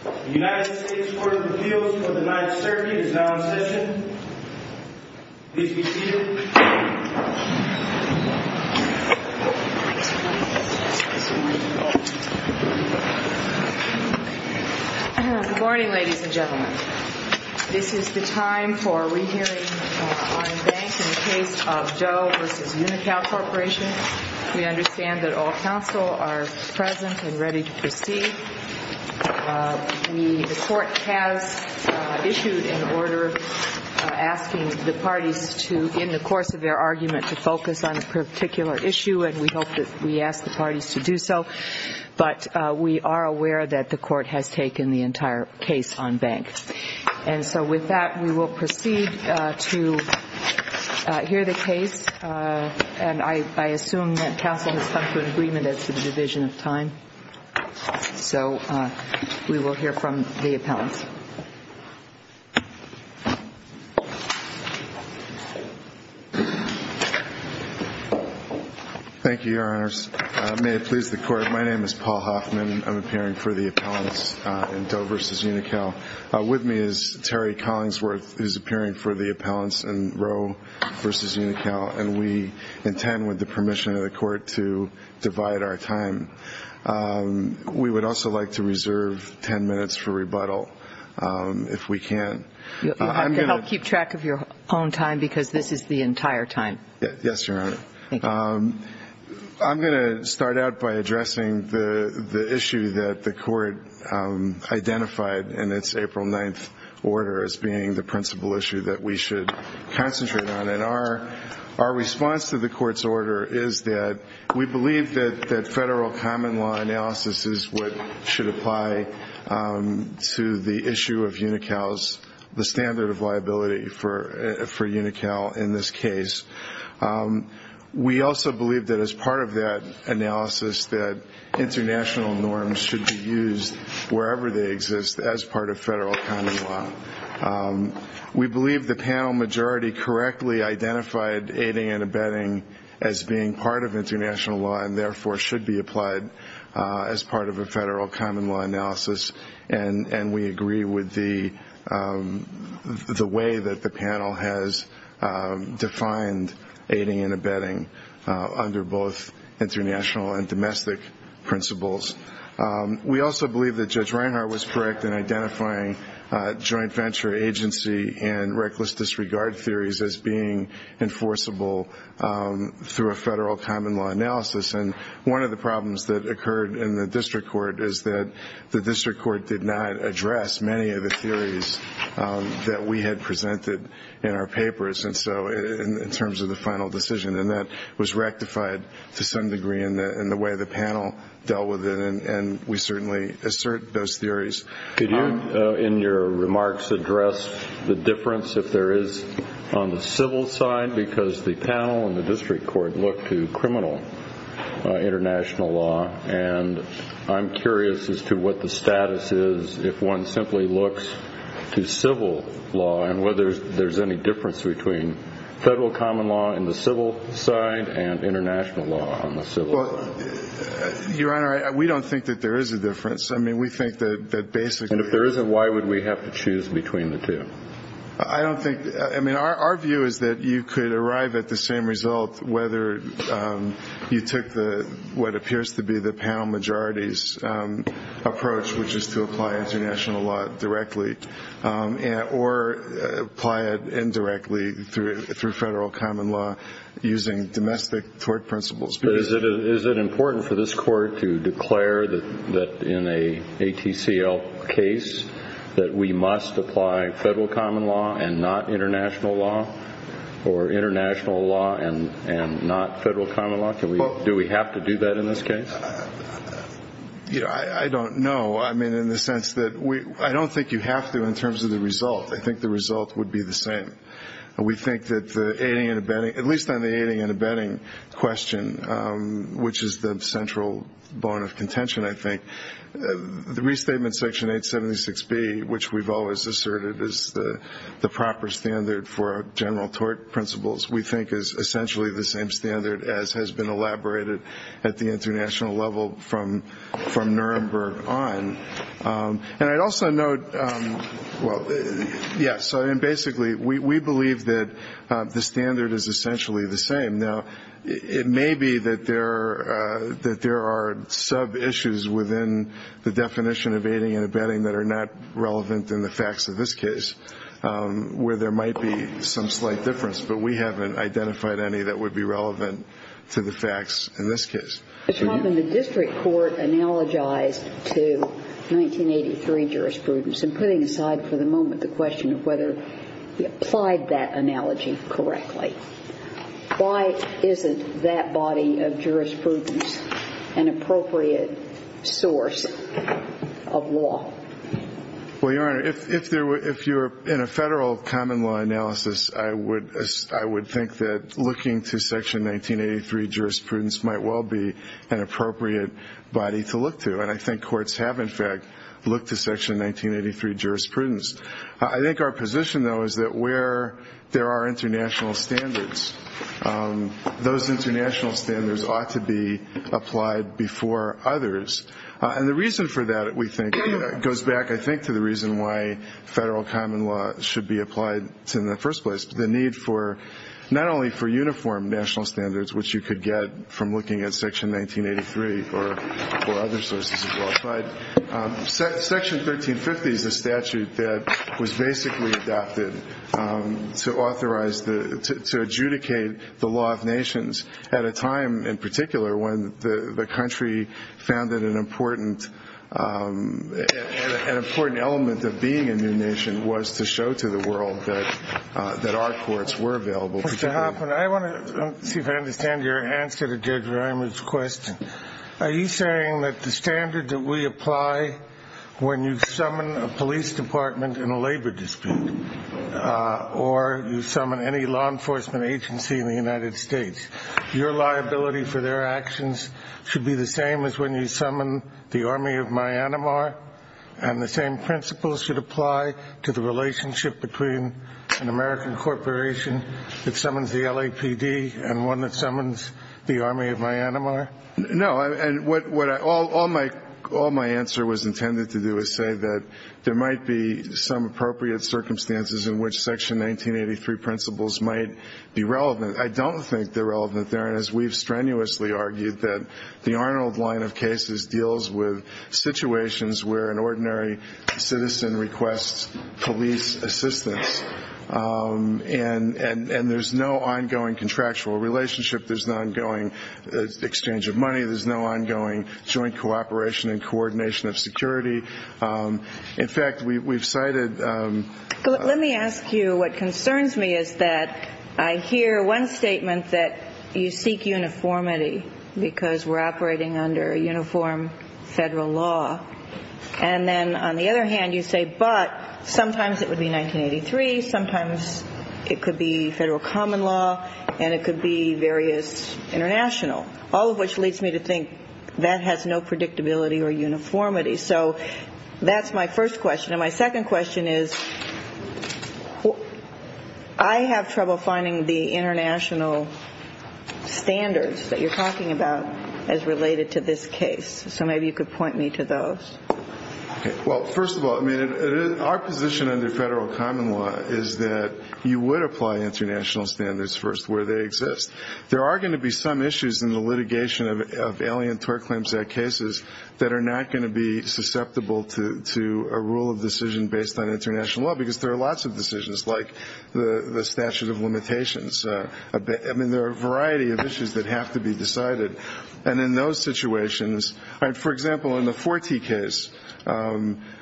The United States Court of Appeals for the Ninth Circuit is now in session. Please be seated. Good morning, ladies and gentlemen. This is the time for re-hearing on a bank in the case of Doe v. Unocal Corporation. We understand that all counsel are present and ready to proceed. The Court has issued an order asking the parties to, in the course of their argument, to focus on a particular issue, and we hope that we ask the parties to do so. But we are aware that the Court has taken the entire case on bank. And so with that, we will proceed to hear the case. Thank you, Your Honors. May it please the Court, my name is Paul Hoffman. I'm appearing for the appellants in Doe v. Unocal. With me is Terry Collingsworth, who is appearing for the appellants in Roe v. Unocal. Thank you, Your Honor. I'm Terry Collingsworth, and I'm appearing for the appellants in Roe v. Unocal. Thank you, Your Honor. I'm Terry Collingsworth, and I'm appearing for the appellants in Roe v. Unocal. Thank you, Your Honor. And our response to the Court's order is that we believe that federal common law analysis is what should apply to the issue of Unocal's standard of liability for Unocal in this case. We also believe that as part of that analysis that international norms should be used wherever they exist as part of federal common law. We believe the panel majority correctly identified aiding and abetting as being part of international law and therefore should be applied as part of a federal common law analysis. And we agree with the way that the panel has defined aiding and abetting under both international and domestic principles. We also believe that Judge Reinhart was correct in identifying joint venture agency and reckless disregard theories as being enforceable through a federal common law analysis. And one of the problems that occurred in the district court is that the district court did not address many of the theories that we had presented in our papers, in terms of the final decision, and that was rectified to some degree in the way the panel dealt with it, and we certainly assert those theories. Could you, in your remarks, address the difference if there is on the civil side, because the panel and the district court look to criminal international law, and I'm curious as to what the status is if one simply looks to civil law and whether there's any difference between federal common law in the civil side and international law on the civil side. Your Honor, we don't think that there is a difference. I mean, we think that basically – And if there isn't, why would we have to choose between the two? I don't think – I mean, our view is that you could arrive at the same result whether you took what appears to be the panel majority's approach, which is to apply international law directly or apply it indirectly through federal common law using domestic tort principles. But is it important for this Court to declare that in an ATCL case that we must apply federal common law and not international law, or international law and not federal common law? Do we have to do that in this case? I don't know. I mean, in the sense that I don't think you have to in terms of the result. I think the result would be the same. We think that the aiding and abetting – at least on the aiding and abetting question, which is the central bone of contention, I think, the restatement section 876B, which we've always asserted is the proper standard for general tort principles, we think is essentially the same standard as has been elaborated at the international level from Nuremberg on. And I'd also note – well, yeah, so basically we believe that the standard is essentially the same. Now, it may be that there are sub-issues within the definition of aiding and abetting that are not relevant in the facts of this case where there might be some slight difference, but we haven't identified any that would be relevant to the facts in this case. But, Your Honor, the district court analogized to 1983 jurisprudence. And putting aside for the moment the question of whether we applied that analogy correctly, why isn't that body of jurisprudence an appropriate source of law? Well, Your Honor, if you're in a federal common law analysis, I would think that looking to Section 1983 jurisprudence might well be an appropriate body to look to. And I think courts have, in fact, looked to Section 1983 jurisprudence. I think our position, though, is that where there are international standards, those international standards ought to be applied before others. And the reason for that, we think, goes back, I think, to the reason why federal common law should be applied in the first place. The need for not only for uniform national standards, which you could get from looking at Section 1983 or other sources of law, but Section 1350 is a statute that was basically adopted to authorize, to adjudicate the law of nations at a time in particular when the country found that an important element of being a new nation was to show to the world that our courts were available. Mr. Hoffman, I want to see if I understand your answer to Judge Reimer's question. Are you saying that the standard that we apply when you summon a police department in a labor dispute or you summon any law enforcement agency in the United States, your liability for their actions should be the same as when you summon the army of Myanmar and the same principles should apply to the relationship between an American corporation that summons the LAPD and one that summons the army of Myanmar? No. And all my answer was intended to do is say that there might be some appropriate circumstances in which Section 1983 principles might be relevant. I don't think they're relevant there, and as we've strenuously argued, that the Arnold line of cases deals with situations where an ordinary citizen requests police assistance. And there's no ongoing contractual relationship. There's no ongoing exchange of money. There's no ongoing joint cooperation and coordination of security. In fact, we've cited... Let me ask you what concerns me is that I hear one statement that you seek uniformity because we're operating under a uniform federal law. And then on the other hand, you say, but sometimes it would be 1983, sometimes it could be federal common law, and it could be various international, all of which leads me to think that has no predictability or uniformity. So that's my first question. And my second question is I have trouble finding the international standards that you're talking about as related to this case. So maybe you could point me to those. Well, first of all, our position under federal common law is that you would apply international standards first where they exist. There are going to be some issues in the litigation of Alien Tort Claims Act cases that are not going to be susceptible to a rule of decision based on international law because there are lots of decisions like the statute of limitations. I mean, there are a variety of issues that have to be decided. And in those situations, for example, in the Forte case,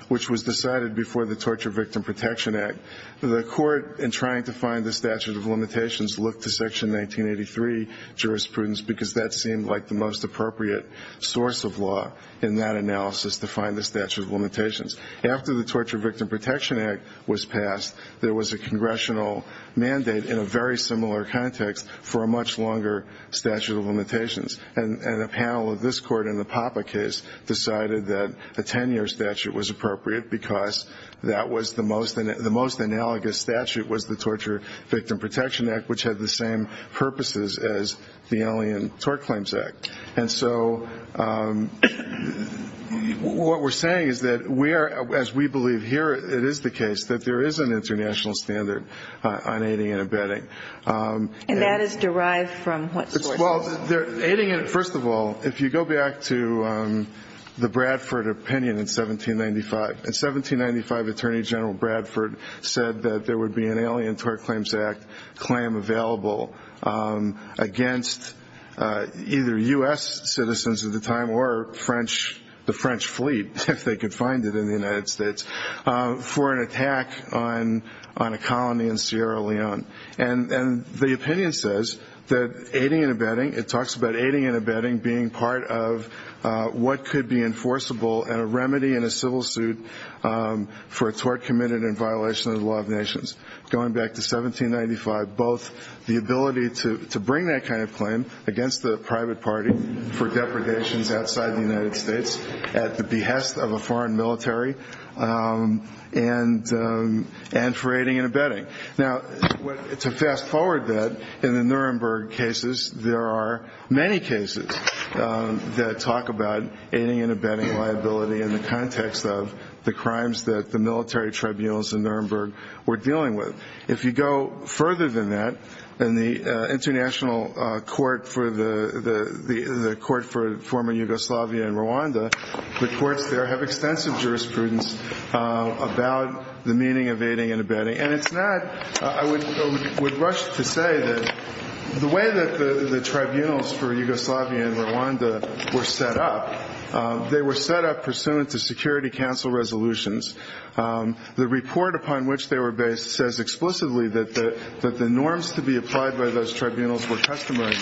which was decided before the Torture Victim Protection Act, the court in trying to find the statute of limitations looked to Section 1983 jurisprudence because that seemed like the most appropriate source of law in that analysis to find the statute of limitations. After the Torture Victim Protection Act was passed, there was a congressional mandate in a very similar context for a much longer statute of limitations. And a panel of this court in the Papa case decided that a 10-year statute was appropriate because that was the most analogous statute was the Torture Victim Protection Act, which had the same purposes as the Alien Tort Claims Act. And so what we're saying is that we are, as we believe here it is the case, that there is an international standard on aiding and abetting. And that is derived from what source? First of all, if you go back to the Bradford opinion in 1795, in 1795 Attorney General Bradford said that there would be an Alien Tort Claims Act claim available against either U.S. citizens at the time or the French fleet, if they could find it in the United States, for an attack on a colony in Sierra Leone. And the opinion says that aiding and abetting, it talks about aiding and abetting being part of what could be enforceable and a remedy in a civil suit for a tort committed in violation of the law of nations. Going back to 1795, both the ability to bring that kind of claim against the private party for depredations outside the United States at the behest of a foreign military and for aiding and abetting. Now, to fast forward that, in the Nuremberg cases, there are many cases that talk about aiding and abetting liability in the context of the crimes that the military tribunals in Nuremberg were dealing with. If you go further than that, in the International Court for the former Yugoslavia and Rwanda, the courts there have extensive jurisprudence about the meaning of aiding and abetting. And it's not, I would rush to say that the way that the tribunals for Yugoslavia and Rwanda were set up, they were set up pursuant to Security Council resolutions. The report upon which they were based says explicitly that the norms to be applied by those tribunals were customary.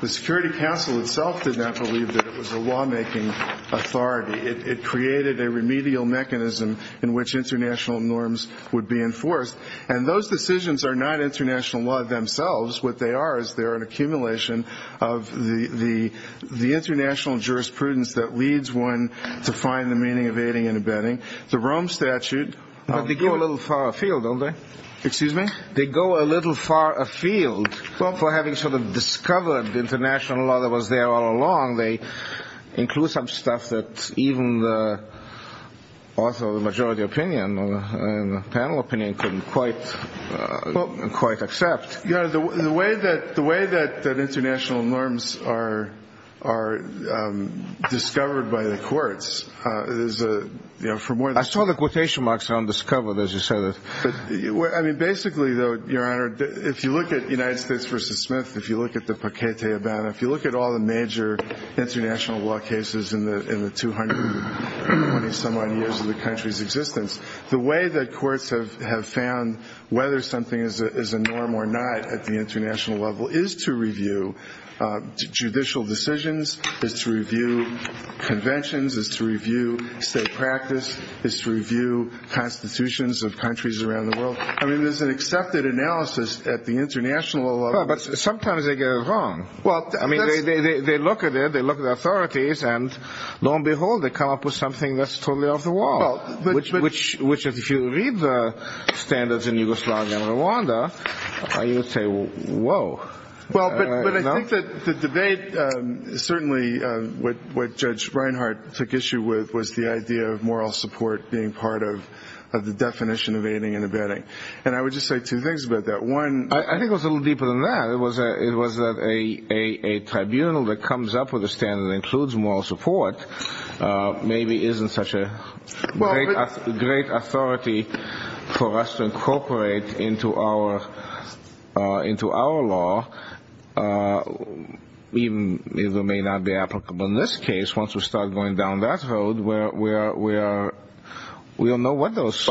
The Security Council itself did not believe that it was a lawmaking authority. It created a remedial mechanism in which international norms would be enforced. And those decisions are not international law themselves. What they are is they're an accumulation of the international jurisprudence that leads one to find the meaning of aiding and abetting. The Rome Statute. But they go a little far afield, don't they? Excuse me? They go a little far afield for having sort of discovered international law that was there all along. They include some stuff that even the author of the majority opinion and the panel opinion couldn't quite accept. Your Honor, the way that international norms are discovered by the courts is for more than one reason. I saw the quotation marks on discovered, as you said. I mean, basically, though, Your Honor, if you look at United States v. Smith, if you look at the Paquete Habana, if you look at all the major international law cases in the 220-some-odd years of the country's existence, the way that courts have found whether something is a norm or not at the international level is to review judicial decisions, is to review conventions, is to review state practice, is to review constitutions of countries around the world. I mean, there's an accepted analysis at the international level. But sometimes they go wrong. Well, I mean, they look at it, they look at the authorities, and lo and behold, they come up with something that's totally off the wall. Which, if you read the standards in Yugoslavia and Rwanda, you would say, whoa. Well, but I think that the debate, certainly what Judge Reinhart took issue with, was the idea of moral support being part of the definition of aiding and abetting. And I would just say two things about that. I think it was a little deeper than that. It was that a tribunal that comes up with a standard that includes moral support maybe isn't such a great authority for us to incorporate into our law, even if it may not be applicable in this case. Once we start going down that road, we don't know what those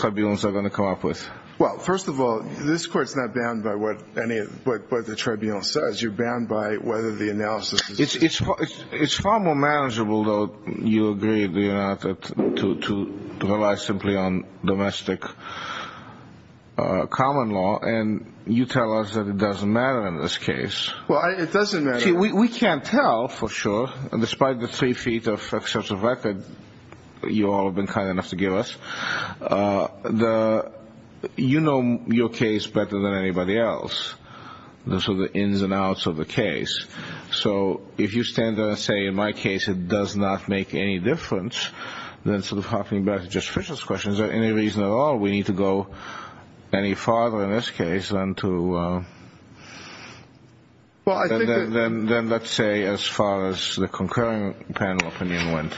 tribunals are going to come up with. Well, first of all, this Court's not bound by what the tribunal says. You're bound by whether the analysis is... It's far more manageable, though, you agree, to rely simply on domestic common law. And you tell us that it doesn't matter in this case. Well, it doesn't matter. We can't tell for sure, despite the three feet of excessive record you all have been kind enough to give us. You know your case better than anybody else. Those are the ins and outs of the case. So if you stand there and say, in my case, it does not make any difference, then sort of hopping back to Justice Fischer's question, is there any reason at all we need to go any farther in this case than to... Well, I think that... Then let's say as far as the concurring panel opinion went.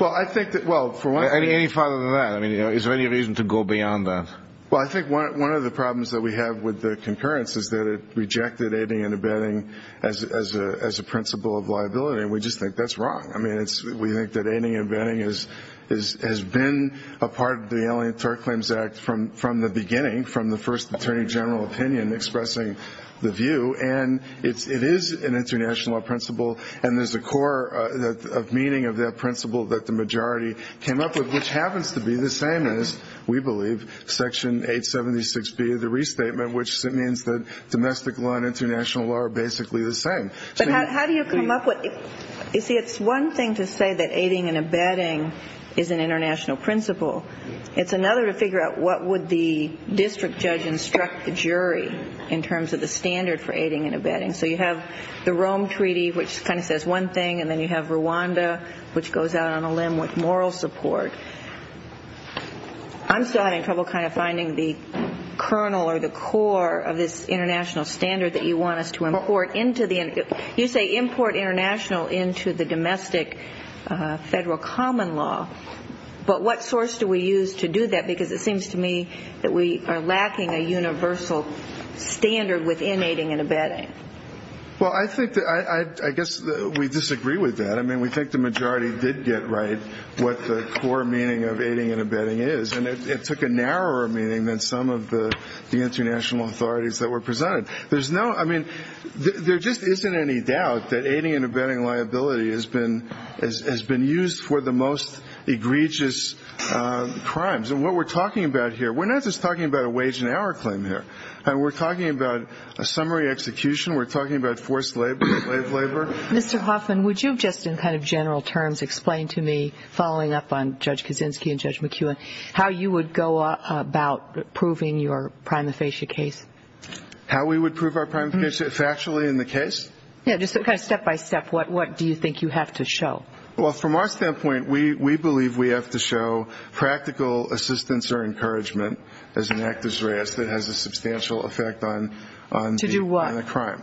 Well, I think that... Any farther than that. I mean, is there any reason to go beyond that? Well, I think one of the problems that we have with the concurrence is that it rejected aiding and abetting as a principle of liability. And we just think that's wrong. I mean, we think that aiding and abetting has been a part of the Alien Tort Claims Act from the beginning, from the first attorney general opinion expressing the view. And it is an international law principle. And there's a core meaning of that principle that the majority came up with, which happens to be the same as, we believe, Section 876B of the Restatement, which means that domestic law and international law are basically the same. But how do you come up with... You see, it's one thing to say that aiding and abetting is an international principle. It's another to figure out what would the district judge instruct the jury in terms of the standard for aiding and abetting. So you have the Rome Treaty, which kind of says one thing, and then you have Rwanda, which goes out on a limb with moral support. I'm still having trouble kind of finding the kernel or the core of this international standard that you want us to import into the... You say import international into the domestic federal common law. But what source do we use to do that? Because it seems to me that we are lacking a universal standard within aiding and abetting. Well, I guess we disagree with that. I mean, we think the majority did get right what the core meaning of aiding and abetting is. And it took a narrower meaning than some of the international authorities that were presented. There just isn't any doubt that aiding and abetting liability has been used for the most egregious crimes. And what we're talking about here, we're not just talking about a wage and hour claim here. We're talking about a summary execution. We're talking about forced labor. Mr. Hoffman, would you just in kind of general terms explain to me, following up on Judge Kaczynski and Judge McKeown, how you would go about proving your prima facie case? How we would prove our prima facie, factually, in the case? Yeah, just kind of step by step. What do you think you have to show? Well, from our standpoint, we believe we have to show practical assistance or encouragement as an act of duress that has a substantial effect on the crime.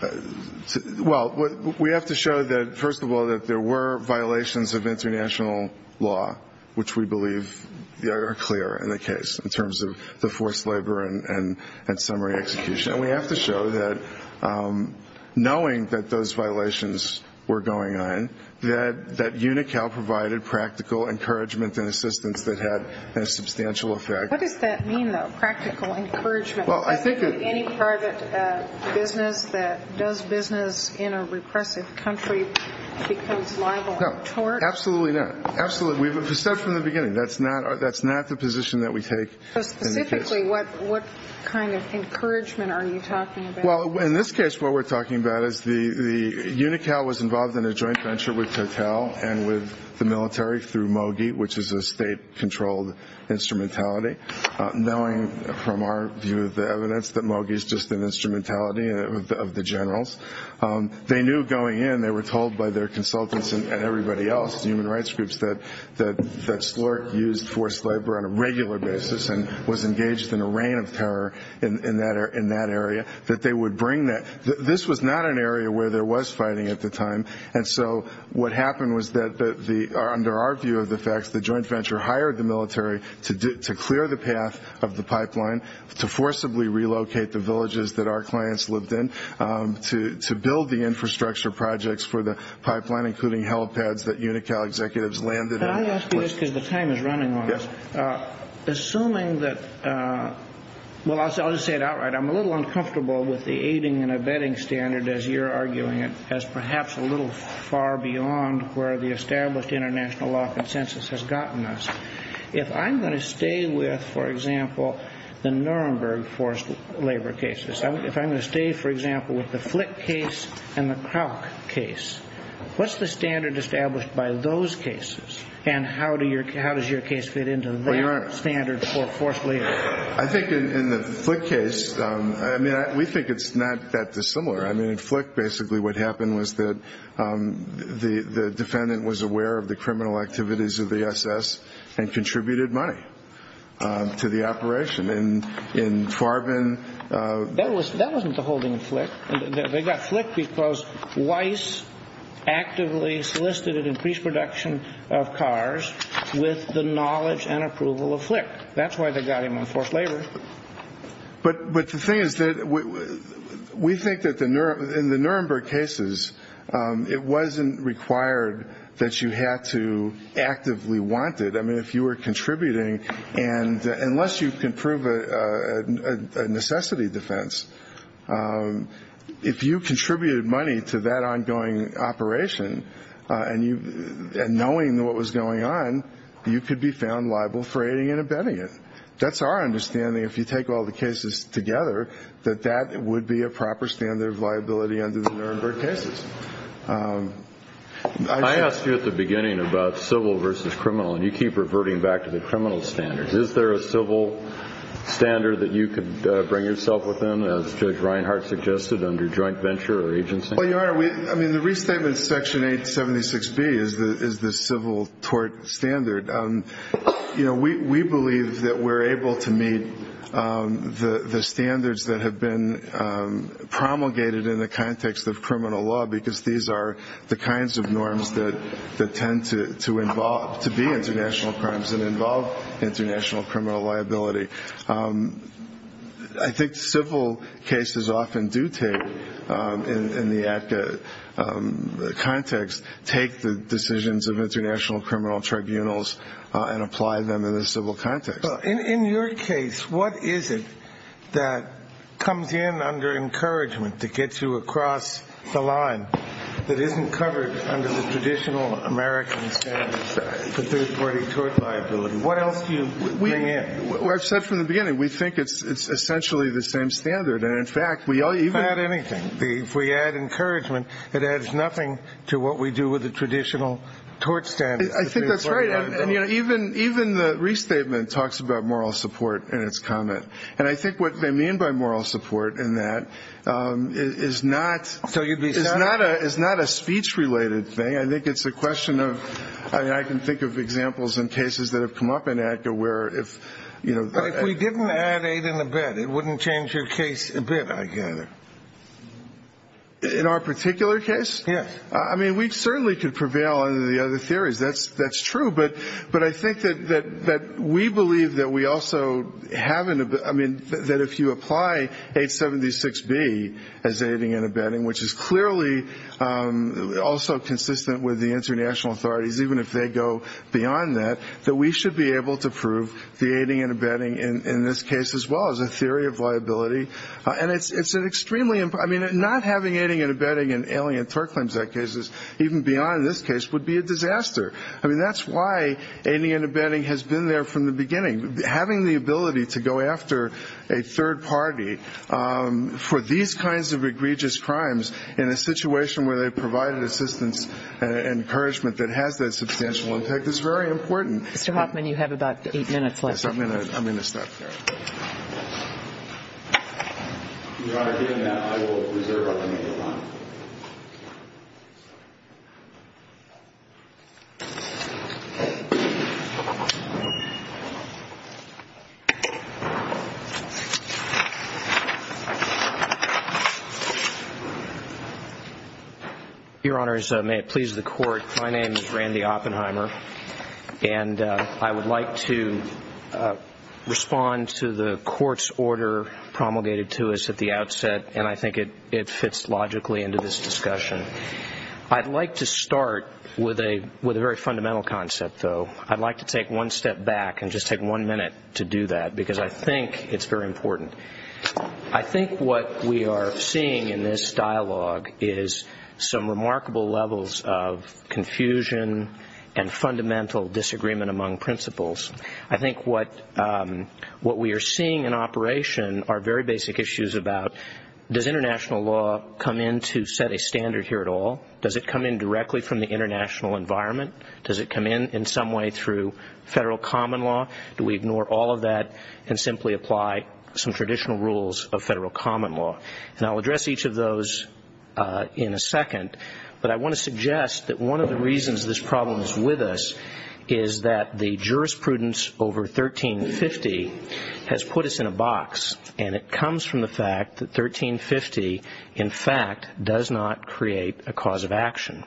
To do what? Well, we have to show that, first of all, that there were violations of international law, which we believe are clear in the case in terms of the forced labor and summary execution. And we have to show that knowing that those violations were going on, that UNICAL provided practical encouragement and assistance that had a substantial effect. What does that mean, though, practical encouragement? Well, I think it – Any private business that does business in a repressive country becomes liable on tort? No, absolutely not. Absolutely. We've said from the beginning, that's not the position that we take in the case. So specifically, what kind of encouragement are you talking about? Well, in this case, what we're talking about is the – UNICAL was involved in a joint venture with Total and with the military through MOGI, which is a state-controlled instrumentality, knowing from our view of the evidence that MOGI is just an instrumentality of the generals. They knew going in, they were told by their consultants and everybody else, human rights groups, that Slork used forced labor on a regular basis and was engaged in a reign of terror in that area, that they would bring that. This was not an area where there was fighting at the time. And so what happened was that under our view of the facts, the joint venture hired the military to clear the path of the pipeline, to forcibly relocate the villages that our clients lived in, to build the infrastructure projects for the pipeline, including helipads that UNICAL executives landed in. Can I ask you this because the time is running on us? Assuming that – well, I'll just say it outright. I'm a little uncomfortable with the aiding and abetting standard, as you're arguing it, as perhaps a little far beyond where the established international law consensus has gotten us. If I'm going to stay with, for example, the Nuremberg forced labor cases, if I'm going to stay, for example, with the Flick case and the Krauk case, what's the standard established by those cases, and how does your case fit into that standard for forced labor? I think in the Flick case, I mean, we think it's not that dissimilar. I mean, in Flick basically what happened was that the defendant was aware of the criminal activities of the SS and contributed money to the operation. That wasn't the holding of Flick. They got Flick because Weiss actively solicited increased production of cars with the knowledge and approval of Flick. That's why they got him on forced labor. But the thing is that we think that in the Nuremberg cases, it wasn't required that you had to actively want it. I mean, if you were contributing, and unless you can prove a necessity defense, if you contributed money to that ongoing operation and knowing what was going on, you could be found liable for aiding and abetting it. That's our understanding. If you take all the cases together, that that would be a proper standard of liability under the Nuremberg cases. I asked you at the beginning about civil versus criminal, and you keep reverting back to the criminal standards. Is there a civil standard that you could bring yourself within, as Judge Reinhart suggested, under joint venture or agency? Well, Your Honor, I mean, the restatement of Section 876B is the civil tort standard. You know, we believe that we're able to meet the standards that have been promulgated in the context of criminal law because these are the kinds of norms that tend to be international crimes and involve international criminal liability. I think civil cases often do take, in the ACCA context, take the decisions of international criminal tribunals and apply them in the civil context. Well, in your case, what is it that comes in under encouragement to get you across the line that isn't covered under the traditional American standards for third-party tort liability? What else do you bring in? Well, I've said from the beginning, we think it's essentially the same standard. And, in fact, we even add anything. If we add encouragement, it adds nothing to what we do with the traditional tort standards. I think that's right. And, you know, even the restatement talks about moral support in its comment. And I think what they mean by moral support in that is not a speech-related thing. I think it's a question of ñ I mean, I can think of examples in cases that have come up in ACCA where if, you know ñ But if we didn't add aid in the bed, it wouldn't change your case a bit, I gather. In our particular case? Yes. I mean, we certainly could prevail under the other theories. That's true. But I think that we believe that we also have an ñ I mean, that if you apply 876B as aiding and abetting, which is clearly also consistent with the international authorities, even if they go beyond that, that we should be able to prove the aiding and abetting in this case as well as a theory of liability. And it's an extremely ñ I mean, not having aiding and abetting in alien tort claims that cases, even beyond in this case, would be a disaster. I mean, that's why aiding and abetting has been there from the beginning. Having the ability to go after a third party for these kinds of egregious crimes in a situation where they provided assistance and encouragement that has that substantial impact is very important. Mr. Hoffman, you have about eight minutes left. Yes. I'm going to stop there. Your Honor, given that, I will reserve up until your time. Your Honors, may it please the Court, my name is Randy Oppenheimer, and I would like to respond to the Court's order promulgated to us at the outset, and I think it fits logically into this discussion. I'd like to start with a very fundamental concept, though. I'd like to take one step back and just take one minute to do that, because I think it's very important. I think what we are seeing in this dialogue is some remarkable levels of confusion and fundamental disagreement among principles. I think what we are seeing in operation are very basic issues about, does international law come in to set a standard here at all? Does it come in directly from the international environment? Does it come in in some way through federal common law? Do we ignore all of that and simply apply some traditional rules of federal common law? And I'll address each of those in a second, but I want to suggest that one of the reasons this problem is with us is that the jurisprudence over 1350 has put us in a box, and it comes from the fact that 1350, in fact, does not create a cause of action.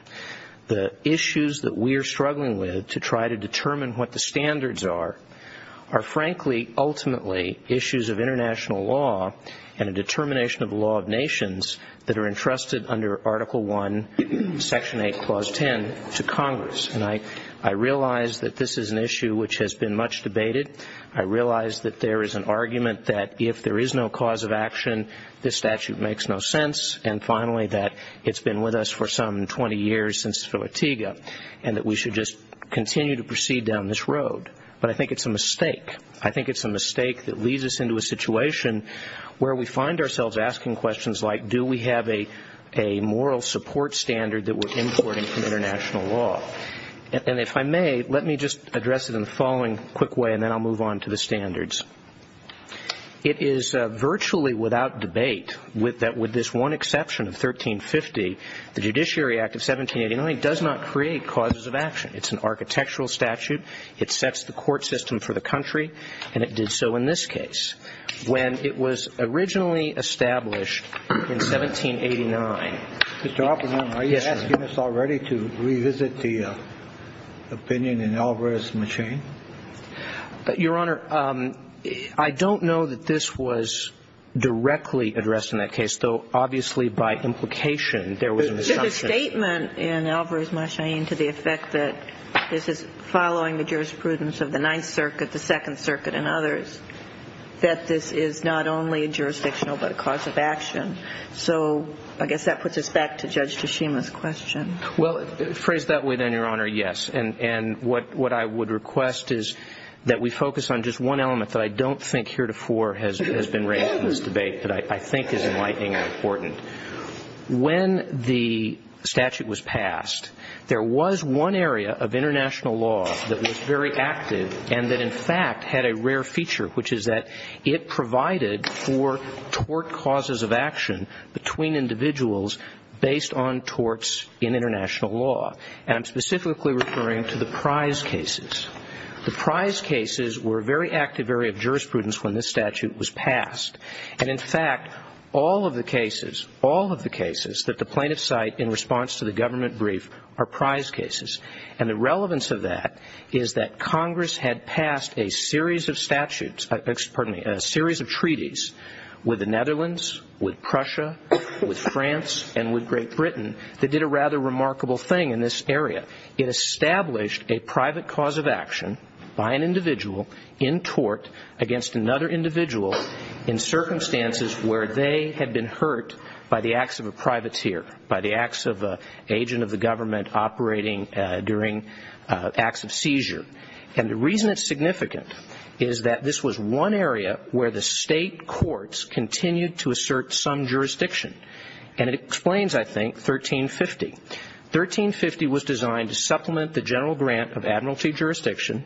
The issues that we are struggling with to try to determine what the standards are are, frankly, ultimately issues of international law and a determination of the law of nations that are entrusted under Article I, Section 8, Clause 10 to Congress. And I realize that this is an issue which has been much debated. I realize that there is an argument that if there is no cause of action, this statute makes no sense, and, finally, that it's been with us for some 20 years since Filetiga, and that we should just continue to proceed down this road. But I think it's a mistake. I think it's a mistake that leads us into a situation where we find ourselves asking questions like, do we have a moral support standard that we're importing from international law? And if I may, let me just address it in the following quick way, and then I'll move on to the standards. It is virtually without debate that with this one exception of 1350, the Judiciary Act of 1789 does not create causes of action. It's an architectural statute. It sets the court system for the country, and it did so in this case. When it was originally established in 1789 ---- Mr. Oppenheimer, are you asking us already to revisit the opinion in Alvarez-McChain? Your Honor, I don't know that this was directly addressed in that case, though obviously by implication there was an assumption. There's a statement in Alvarez-McChain to the effect that this is following the jurisprudence of the Ninth Circuit, the Second Circuit, and others, that this is not only jurisdictional but a cause of action. So I guess that puts us back to Judge Tshishima's question. Well, phrased that way then, Your Honor, yes. And what I would request is that we focus on just one element that I don't think heretofore has been raised in this debate that I think is enlightening and important. When the statute was passed, there was one area of international law that was very active and that, in fact, had a rare feature, which is that it provided for tort causes of action between individuals based on torts in international law. And I'm specifically referring to the prize cases. The prize cases were a very active area of jurisprudence when this statute was passed. And, in fact, all of the cases, all of the cases that the plaintiffs cite in response to the government brief are prize cases. And the relevance of that is that Congress had passed a series of statutes, pardon me, a series of treaties with the Netherlands, with Prussia, with France, and with Great Britain that did a rather remarkable thing. In this area, it established a private cause of action by an individual in tort against another individual in circumstances where they had been hurt by the acts of a privateer, by the acts of an agent of the government operating during acts of seizure. And the reason it's significant is that this was one area where the state courts continued to assert some jurisdiction. And it explains, I think, 1350. 1350 was designed to supplement the general grant of admiralty jurisdiction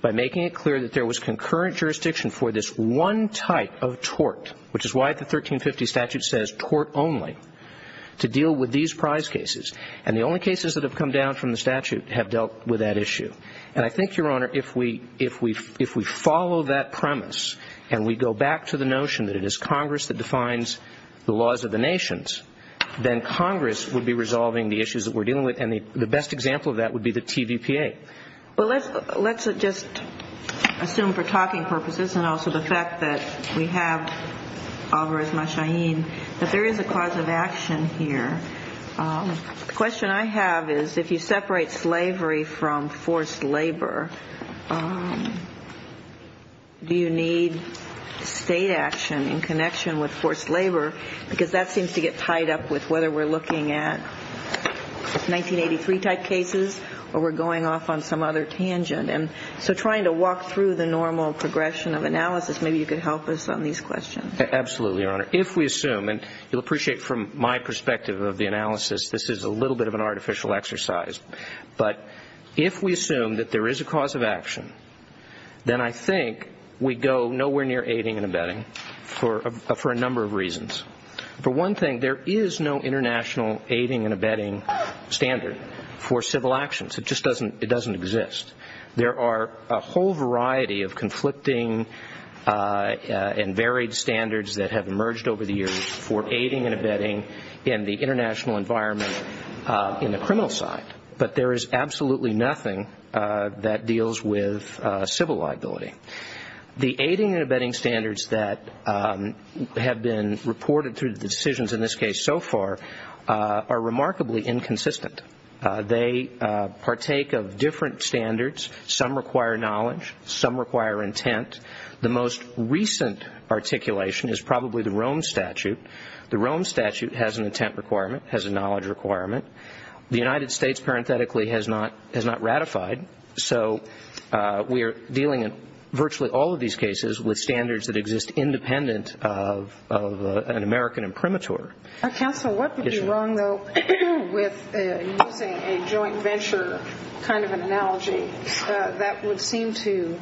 by making it clear that there was concurrent jurisdiction for this one type of tort, which is why the 1350 statute says tort only, to deal with these prize cases. And the only cases that have come down from the statute have dealt with that issue. And I think, Your Honor, if we follow that premise and we go back to the notion that it is Congress that defines the laws of the nations, then Congress would be resolving the issues that we're dealing with. And the best example of that would be the TVPA. Well, let's just assume for talking purposes and also the fact that we have Alvarez Machaín, that there is a cause of action here. The question I have is if you separate slavery from forced labor, do you need state action in connection with forced labor? Because that seems to get tied up with whether we're looking at 1983-type cases or we're going off on some other tangent. And so trying to walk through the normal progression of analysis, maybe you could help us on these questions. Absolutely, Your Honor. If we assume, and you'll appreciate from my perspective of the analysis, this is a little bit of an artificial exercise. But if we assume that there is a cause of action, then I think we go nowhere near aiding and abetting for a number of reasons. For one thing, there is no international aiding and abetting standard for civil actions. It just doesn't exist. There are a whole variety of conflicting and varied standards that have emerged over the years for aiding and abetting in the international environment in the criminal side. But there is absolutely nothing that deals with civil liability. The aiding and abetting standards that have been reported through the decisions in this case so far are remarkably inconsistent. They partake of different standards. Some require knowledge. Some require intent. The most recent articulation is probably the Rome Statute. The Rome Statute has an intent requirement, has a knowledge requirement. The United States, parenthetically, has not ratified. So we are dealing in virtually all of these cases with standards that exist independent of an American imprimatur. Counsel, what would be wrong, though, with using a joint venture kind of an analogy that would seem to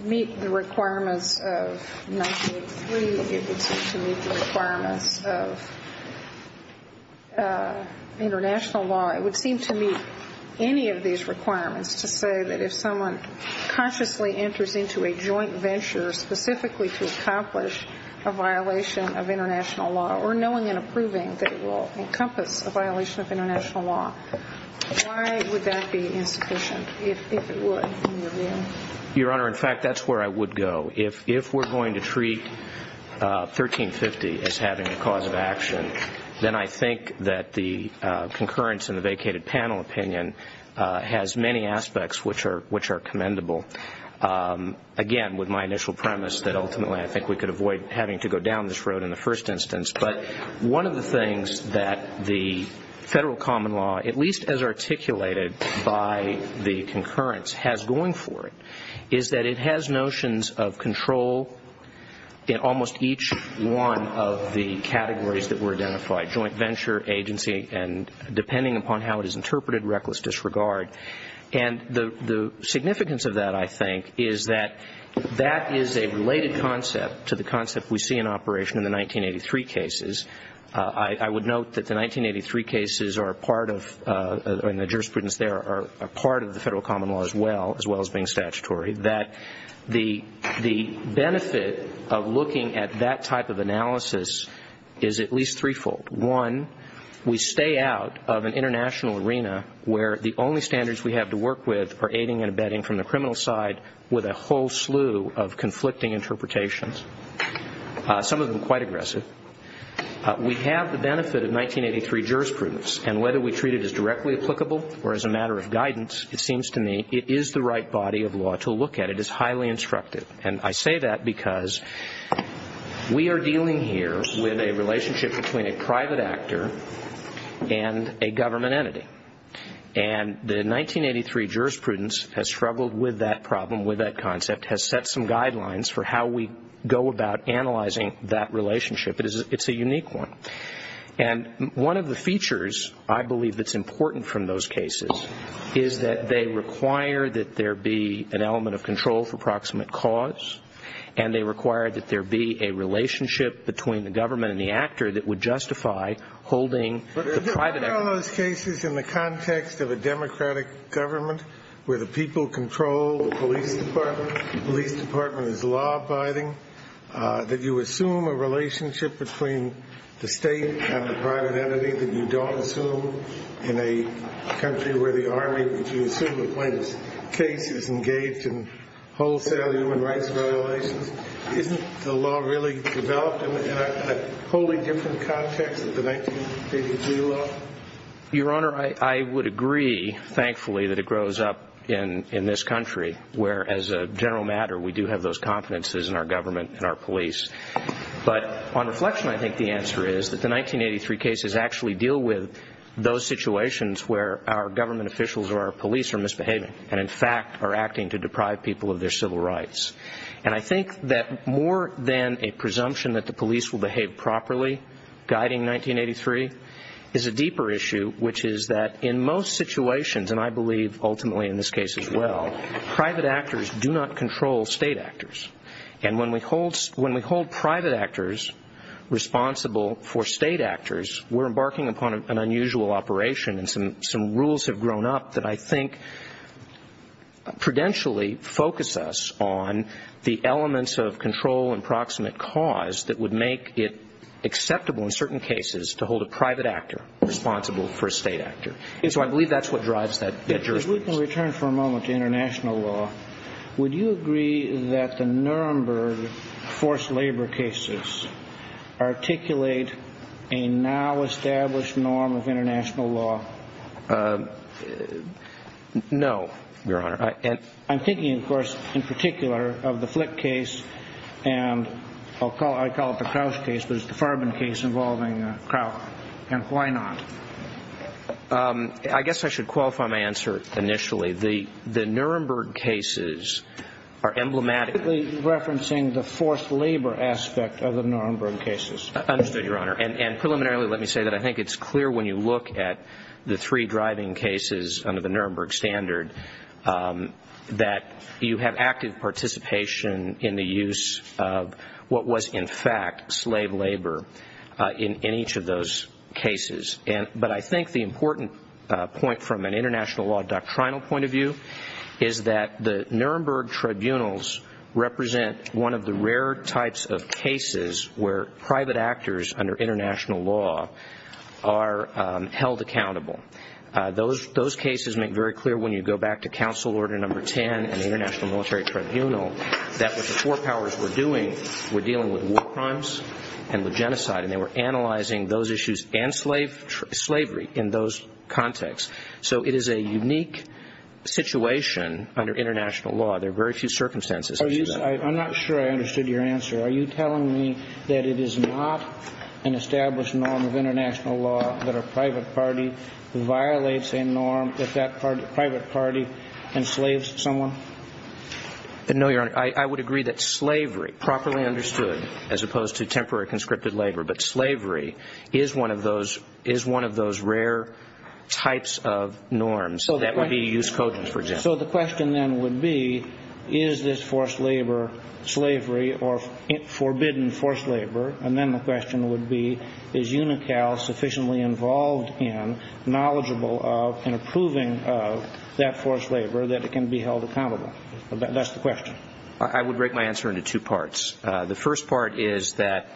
meet the requirements of 1983? It would seem to meet the requirements of international law. It would seem to meet any of these requirements to say that if someone consciously enters into a joint venture specifically to accomplish a violation of international law or knowing and approving that it will encompass a violation of international law, why would that be insufficient if it were in your view? Your Honor, in fact, that's where I would go. If we're going to treat 1350 as having a cause of action, then I think that the concurrence in the vacated panel opinion has many aspects which are commendable. Again, with my initial premise that ultimately I think we could avoid having to go down this road in the first instance. But one of the things that the federal common law, at least as articulated by the concurrence, has going for it, is that it has notions of control in almost each one of the categories that were identified, joint venture, agency, and depending upon how it is interpreted, reckless disregard. And the significance of that, I think, is that that is a related concept to the concept we see in operation in the 1983 cases. I would note that the 1983 cases are a part of, and the jurisprudence there are a part of the federal common law as well, as well as being statutory, that the benefit of looking at that type of analysis is at least threefold. One, we stay out of an international arena where the only standards we have to work with are aiding and abetting from the criminal side with a whole slew of conflicting interpretations, some of them quite aggressive. We have the benefit of 1983 jurisprudence, and whether we treat it as directly applicable or as a matter of guidance, it seems to me it is the right body of law to look at. It is highly instructive. And I say that because we are dealing here with a relationship between a private actor and a government entity. And the 1983 jurisprudence has struggled with that problem, with that concept, has set some guidelines for how we go about analyzing that relationship. It's a unique one. And one of the features I believe that's important from those cases is that they require that there be an element of control for proximate cause, and they require that there be a relationship between the government and the actor that would justify holding the private actor. But there are cases in the context of a democratic government where the people control the police department, the police department is law-abiding, that you assume a relationship between the state and the private entity that you don't assume in a country where the army, where you assume the plaintiff's case is engaged in wholesale human rights violations. Isn't the law really developed in a wholly different context than the 1983 law? Your Honor, I would agree, thankfully, that it grows up in this country where, as a general matter, we do have those confidences in our government and our police. But on reflection, I think the answer is that the 1983 cases actually deal with those situations where our government officials or our police are misbehaving and, in fact, are acting to deprive people of their civil rights. And I think that more than a presumption that the police will behave properly, guiding 1983, is a deeper issue, which is that in most situations, and I believe ultimately in this case as well, private actors do not control state actors. And when we hold private actors responsible for state actors, we're embarking upon an unusual operation and some rules have grown up that I think prudentially focus us on the elements of control and proximate cause that would make it acceptable in certain cases to hold a private actor responsible for a state actor. And so I believe that's what drives that jurisprudence. If we can return for a moment to international law, would you agree that the Nuremberg forced labor cases articulate a now-established norm of international law? No, Your Honor. I'm thinking, of course, in particular of the Flick case and I'll call it the Crouch case, but it's the Farben case involving Crouch. And why not? I guess I should qualify my answer initially. The Nuremberg cases are emblematic. You're referencing the forced labor aspect of the Nuremberg cases. Understood, Your Honor. And preliminarily let me say that I think it's clear when you look at the three driving cases under the Nuremberg standard that you have active participation in the use of what was in fact slave labor in each of those cases. But I think the important point from an international law doctrinal point of view is that the Nuremberg tribunals represent one of the rare types of cases where private actors under international law are held accountable. Those cases make very clear when you go back to Council Order No. 10 and the International Military Tribunal that what the four powers were doing were dealing with war crimes and with genocide. And they were analyzing those issues and slavery in those contexts. So it is a unique situation under international law. There are very few circumstances. I'm not sure I understood your answer. Are you telling me that it is not an established norm of international law that a private party violates a norm if that private party enslaves someone? No, Your Honor. I would agree that slavery properly understood as opposed to temporary conscripted labor, but slavery is one of those rare types of norms that would be used cogent, for example. So the question then would be is this forced labor slavery or forbidden forced labor? And then the question would be is UNICAL sufficiently involved in, knowledgeable of, and approving of that forced labor that it can be held accountable? That's the question. I would break my answer into two parts. The first part is that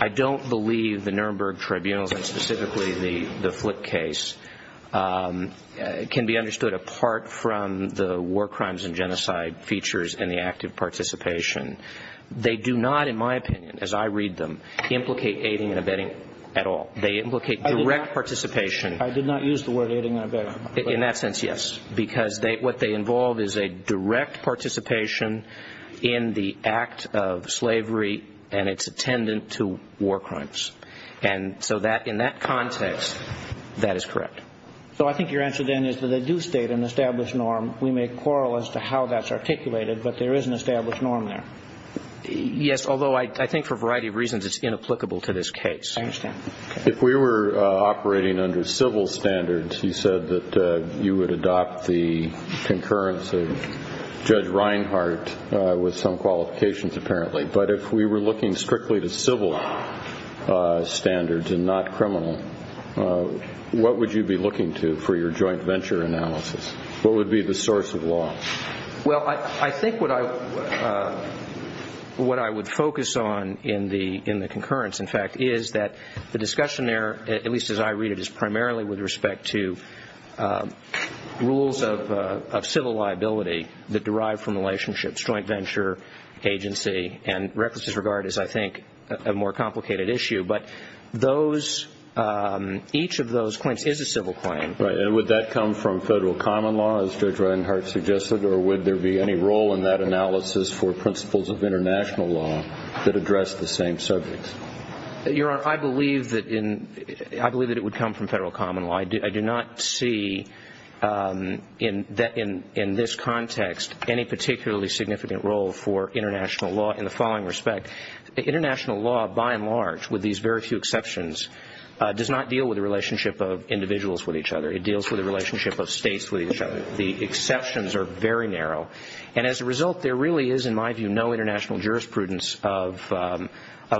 I don't believe the Nuremberg Tribunals and specifically the Flip case can be understood apart from the war crimes and genocide features and the active participation. They do not, in my opinion, as I read them, implicate aiding and abetting at all. They implicate direct participation. I did not use the word aiding and abetting. In that sense, yes. Because what they involve is a direct participation in the act of slavery and its attendant to war crimes. And so in that context, that is correct. So I think your answer then is that they do state an established norm. We may quarrel as to how that's articulated, but there is an established norm there. Yes, although I think for a variety of reasons it's inapplicable to this case. I understand. If we were operating under civil standards, you said that you would adopt the concurrence of Judge Reinhart with some qualifications apparently. But if we were looking strictly to civil standards and not criminal, what would you be looking to for your joint venture analysis? What would be the source of law? Well, I think what I would focus on in the concurrence, in fact, is that the discussion there, at least as I read it, is primarily with respect to rules of civil liability that derive from relationships, joint venture, agency, and reckless disregard is, I think, a more complicated issue. But each of those claims is a civil claim. Right. And would that come from federal common law, as Judge Reinhart suggested, or would there be any role in that analysis for principles of international law that address the same subject? Your Honor, I believe that it would come from federal common law. I do not see in this context any particularly significant role for international law in the following respect. International law, by and large, with these very few exceptions, does not deal with the relationship of individuals with each other. It deals with the relationship of states with each other. The exceptions are very narrow. And as a result, there really is, in my view, no international jurisprudence of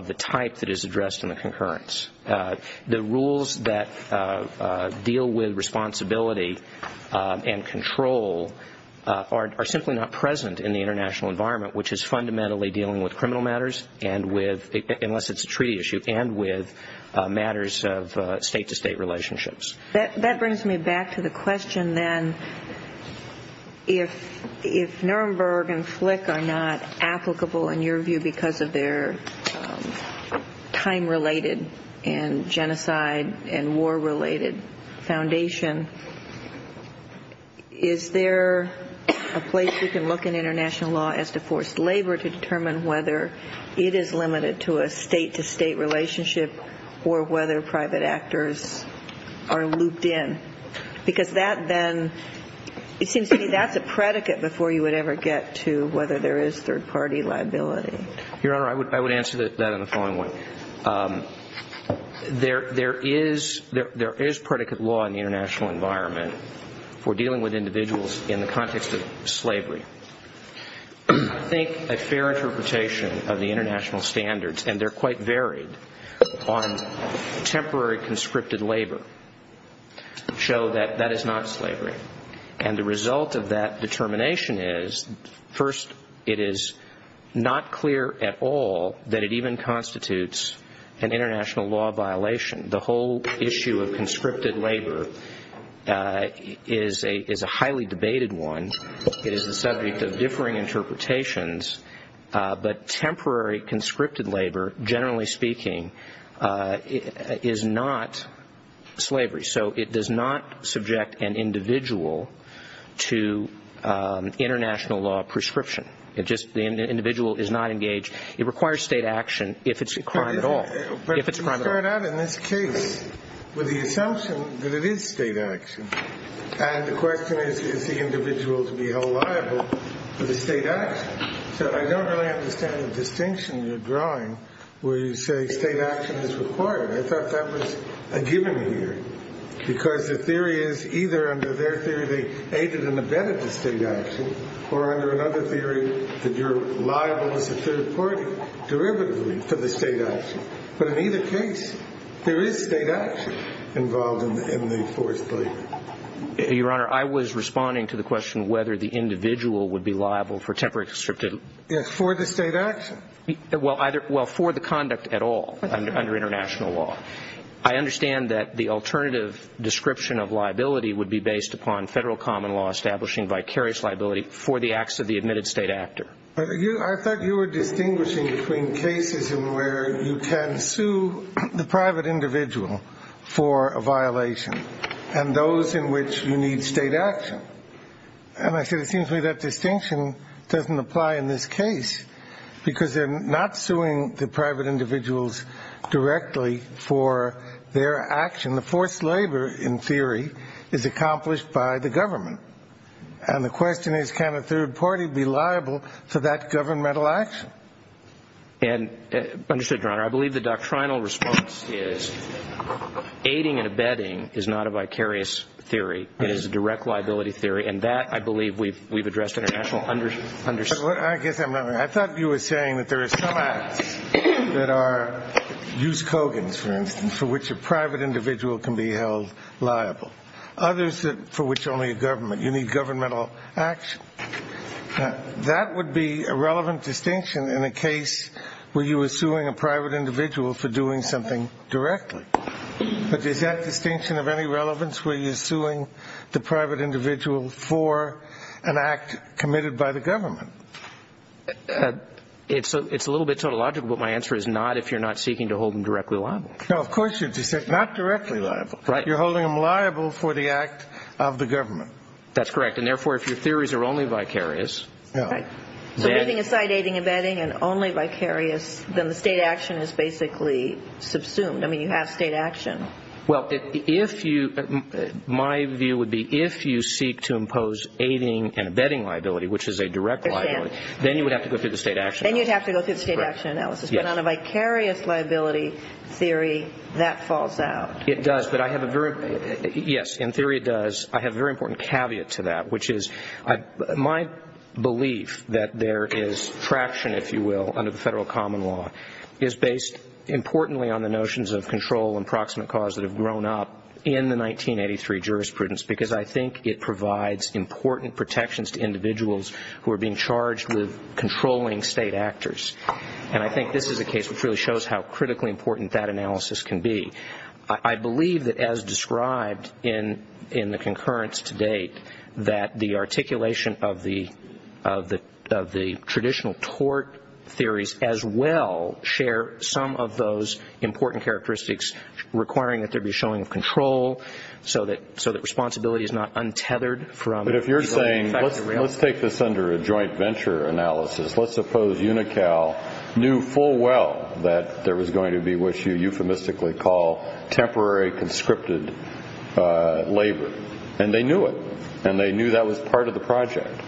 the type that is addressed in the concurrence. The rules that deal with responsibility and control are simply not present in the international environment, which is fundamentally dealing with criminal matters and with, unless it's a treaty issue, and with matters of state-to-state relationships. That brings me back to the question, then, if Nuremberg and Flick are not applicable, in your view, because of their time-related and genocide- and war-related foundation, is there a place you can look in international law as to forced labor to determine whether it is limited to a state-to-state relationship or whether private actors are looped in? Because that, then, it seems to me that's a predicate before you would ever get to whether there is third-party liability. Your Honor, I would answer that in the following way. There is predicate law in the international environment for dealing with individuals in the context of slavery. I think a fair interpretation of the international standards, and they're quite varied, on temporary conscripted labor show that that is not slavery. And the result of that determination is, first, it is not clear at all that it even constitutes an international law violation. The whole issue of conscripted labor is a highly debated one. It is the subject of differing interpretations, but temporary conscripted labor, generally speaking, is not slavery. So it does not subject an individual to international law prescription. The individual is not engaged. It requires state action if it's a crime at all. But you start out in this case with the assumption that it is state action. And the question is, is the individual to be held liable for the state action? So I don't really understand the distinction you're drawing where you say state action is required. I thought that was a given here because the theory is either under their theory they aided and abetted the state action or under another theory that you're liable as a third party derivatively for the state action. But in either case, there is state action involved in the forced labor. Your Honor, I was responding to the question whether the individual would be liable for temporary conscripted labor. Yes, for the state action. Well, for the conduct at all under international law. I understand that the alternative description of liability would be based upon federal common law establishing vicarious liability for the acts of the admitted state actor. I thought you were distinguishing between cases in where you can sue the private individual for a violation and those in which you need state action. And I said it seems to me that distinction doesn't apply in this case because they're not suing the private individuals directly for their action. The forced labor, in theory, is accomplished by the government. And the question is can a third party be liable for that governmental action? And understood, Your Honor. I believe the doctrinal response is aiding and abetting is not a vicarious theory. It is a direct liability theory. And that, I believe, we've addressed internationally. I guess I'm wrong. I thought you were saying that there are some acts that are use Kogans, for instance, for which a private individual can be held liable, others for which only a government. You need governmental action. That would be a relevant distinction in a case where you were suing a private individual for doing something directly. But is that distinction of any relevance? Where you're suing the private individual for an act committed by the government. It's a little bit tautological, but my answer is not if you're not seeking to hold them directly liable. No, of course you're not directly liable. You're holding them liable for the act of the government. That's correct. And, therefore, if your theories are only vicarious. Right. So putting aside aiding and abetting and only vicarious, then the state action is basically subsumed. I mean, you have state action. Well, my view would be if you seek to impose aiding and abetting liability, which is a direct liability, then you would have to go through the state action analysis. Then you'd have to go through the state action analysis. But on a vicarious liability theory, that falls out. It does, but I have a very – yes, in theory it does. I have a very important caveat to that, which is my belief that there is fraction, if you will, under the federal common law is based importantly on the notions of control and proximate cause that have grown up in the 1983 jurisprudence because I think it provides important protections to individuals who are being charged with controlling state actors. And I think this is a case which really shows how critically important that analysis can be. I believe that as described in the concurrence to date, that the articulation of the traditional tort theories as well share some of those important characteristics requiring that there be a showing of control so that responsibility is not untethered from – But if you're saying – let's take this under a joint venture analysis. Let's suppose UNICAL knew full well that there was going to be what you euphemistically call temporary conscripted labor. And they knew it, and they knew that was part of the project.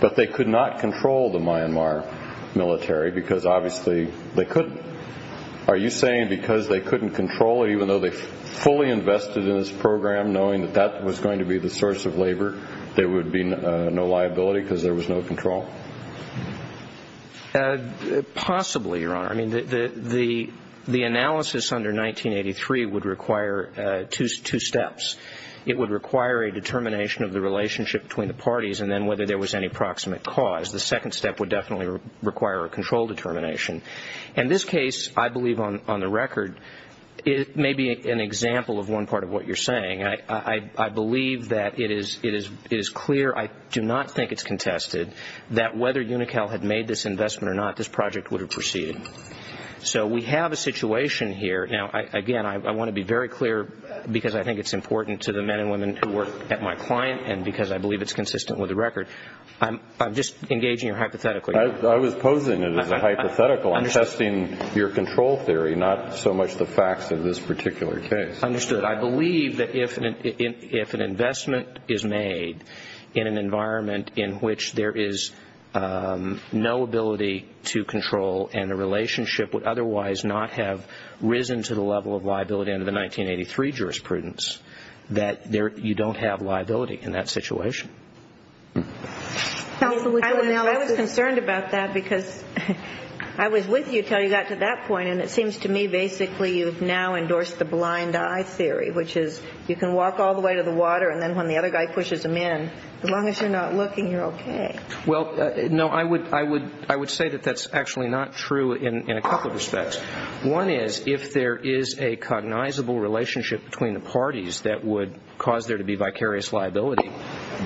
But they could not control the Myanmar military because obviously they couldn't. Are you saying because they couldn't control it, even though they fully invested in this program, knowing that that was going to be the source of labor, there would be no liability because there was no control? Possibly, Your Honor. I mean, the analysis under 1983 would require two steps. It would require a determination of the relationship between the parties and then whether there was any proximate cause. The second step would definitely require a control determination. And this case, I believe on the record, may be an example of one part of what you're saying. I believe that it is clear. I do not think it's contested that whether UNICAL had made this investment or not, this project would have proceeded. So we have a situation here. Now, again, I want to be very clear because I think it's important to the men and women who work at my client and because I believe it's consistent with the record. I'm just engaging you hypothetically. I was posing it as a hypothetical. I'm testing your control theory, not so much the facts of this particular case. Understood. I believe that if an investment is made in an environment in which there is no ability to control and the relationship would otherwise not have risen to the level of liability under the 1983 jurisprudence, that you don't have liability in that situation. I was concerned about that because I was with you until you got to that point, and it seems to me basically you've now endorsed the blind eye theory, which is you can walk all the way to the water and then when the other guy pushes him in, as long as you're not looking, you're okay. Well, no, I would say that that's actually not true in a couple of respects. One is if there is a cognizable relationship between the parties that would cause there to be vicarious liability,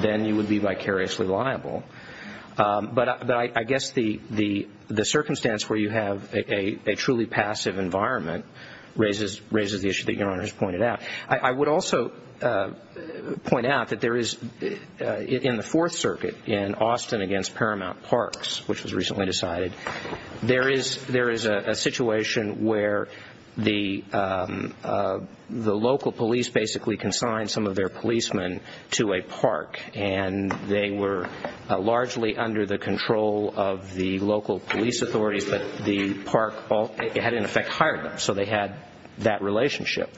then you would be vicariously liable. But I guess the circumstance where you have a truly passive environment raises the issue that Your Honor has pointed out. I would also point out that there is in the Fourth Circuit in Austin against Paramount Parks, which was recently decided, there is a situation where the local police basically consigned some of their policemen to a park and they were largely under the control of the local police authorities, but the park had in effect hired them, so they had that relationship.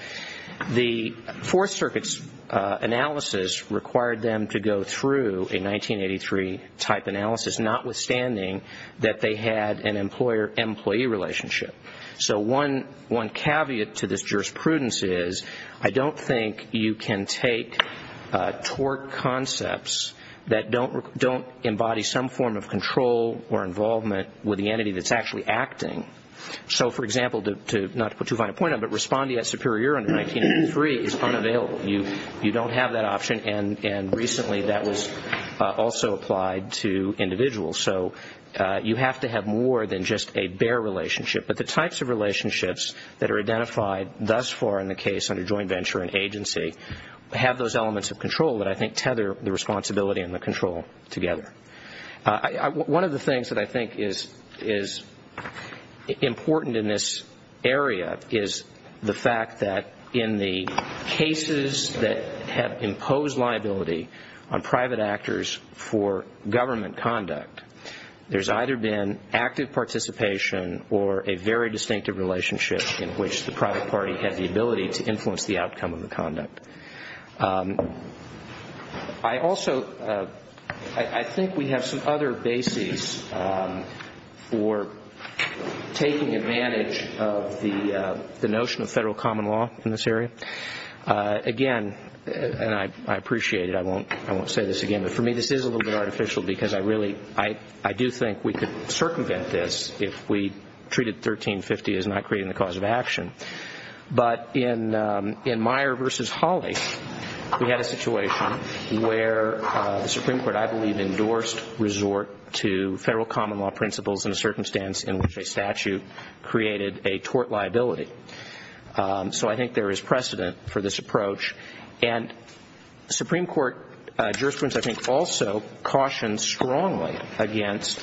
The Fourth Circuit's analysis required them to go through a 1983 type analysis, notwithstanding that they had an employer-employee relationship. So one caveat to this jurisprudence is I don't think you can take tort concepts that don't embody some form of control or involvement with the entity that's actually acting. So, for example, not to put too fine a point on it, but responding at superior under 1983 is unavailable. You don't have that option, and recently that was also applied to individuals. So you have to have more than just a bare relationship. But the types of relationships that are identified thus far in the case under joint venture and agency have those elements of control that I think tether the responsibility and the control together. One of the things that I think is important in this area is the fact that in the cases that have imposed liability on private actors for government conduct, there's either been active participation or a very distinctive relationship in which the private party has the ability to influence the outcome of the conduct. I also think we have some other bases for taking advantage of the notion of federal common law in this area. Again, and I appreciate it, I won't say this again, but for me this is a little bit artificial, because I do think we could circumvent this if we treated 1350 as not creating the cause of action. But in Meyer v. Hawley, we had a situation where the Supreme Court, I believe, endorsed resort to federal common law principles in a circumstance in which a statute created a tort liability. So I think there is precedent for this approach. And the Supreme Court jurisprudence, I think, also cautions strongly against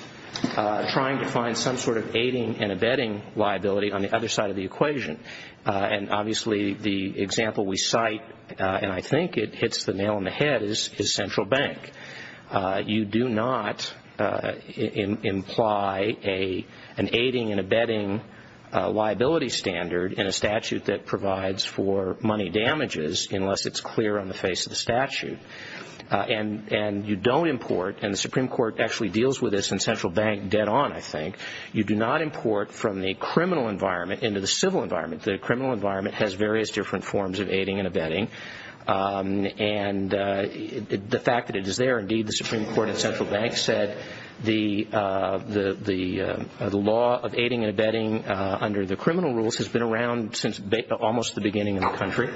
trying to find some sort of aiding and abetting liability on the other side of the equation. And obviously the example we cite, and I think it hits the nail on the head, is Central Bank. You do not imply an aiding and abetting liability standard in a statute that provides for money damages unless it's clear on the face of the statute. And you don't import, and the Supreme Court actually deals with this in Central Bank dead on, I think, you do not import from the criminal environment into the civil environment. The criminal environment has various different forms of aiding and abetting. And the fact that it is there, indeed, the Supreme Court in Central Bank said the law of aiding and abetting under the criminal rules has been around since almost the beginning of the country.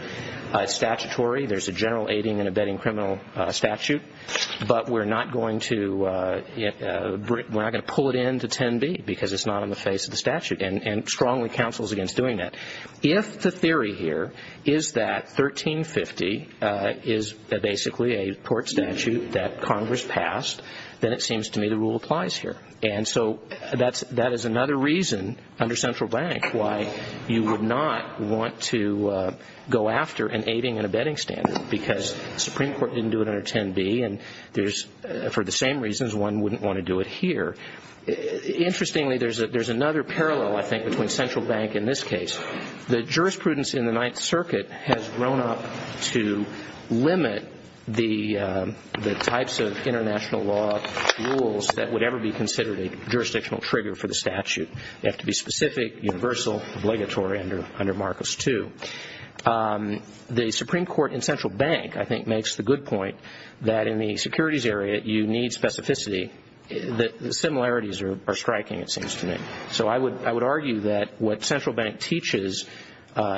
It's statutory. There's a general aiding and abetting criminal statute. But we're not going to pull it into 10B because it's not on the face of the statute, and strongly counsels against doing that. If the theory here is that 1350 is basically a court statute that Congress passed, then it seems to me the rule applies here. And so that is another reason under Central Bank why you would not want to go after an aiding and abetting standard because the Supreme Court didn't do it under 10B, and for the same reasons one wouldn't want to do it here. Interestingly, there's another parallel, I think, between Central Bank and this case. The jurisprudence in the Ninth Circuit has grown up to limit the types of international law rules that would ever be considered a jurisdictional trigger for the statute. They have to be specific, universal, obligatory under Marcus II. The Supreme Court in Central Bank, I think, makes the good point that in the securities area you need specificity. The similarities are striking, it seems to me. So I would argue that what Central Bank teaches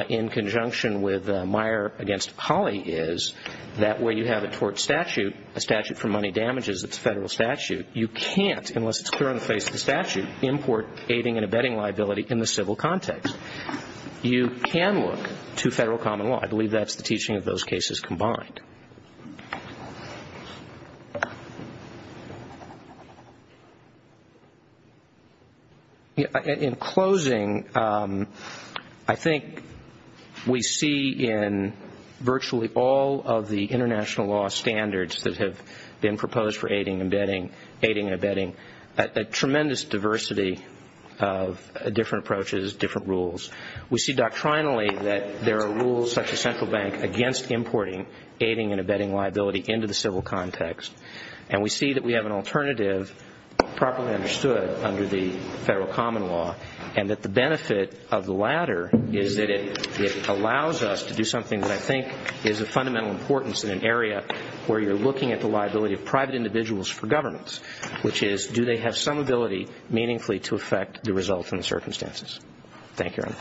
in conjunction with Meyer against Hawley is that where you have a tort statute, a statute for money damages, it's a federal statute, you can't, unless it's clear on the face of the statute, import aiding and abetting liability in the civil context. You can look to federal common law. I believe that's the teaching of those cases combined. In closing, I think we see in virtually all of the international law standards that have been proposed for aiding and abetting a tremendous diversity of different approaches, different rules. We see doctrinally that there are rules such as Central Bank against importing aiding and abetting liability into the civil context. And we see that we have an alternative properly understood under the federal common law and that the benefit of the latter is that it allows us to do something that I think is of fundamental importance in an area where you're looking at the liability of private individuals for governments, which is do they have some ability meaningfully to affect the results and the circumstances. Thank you, Your Honor.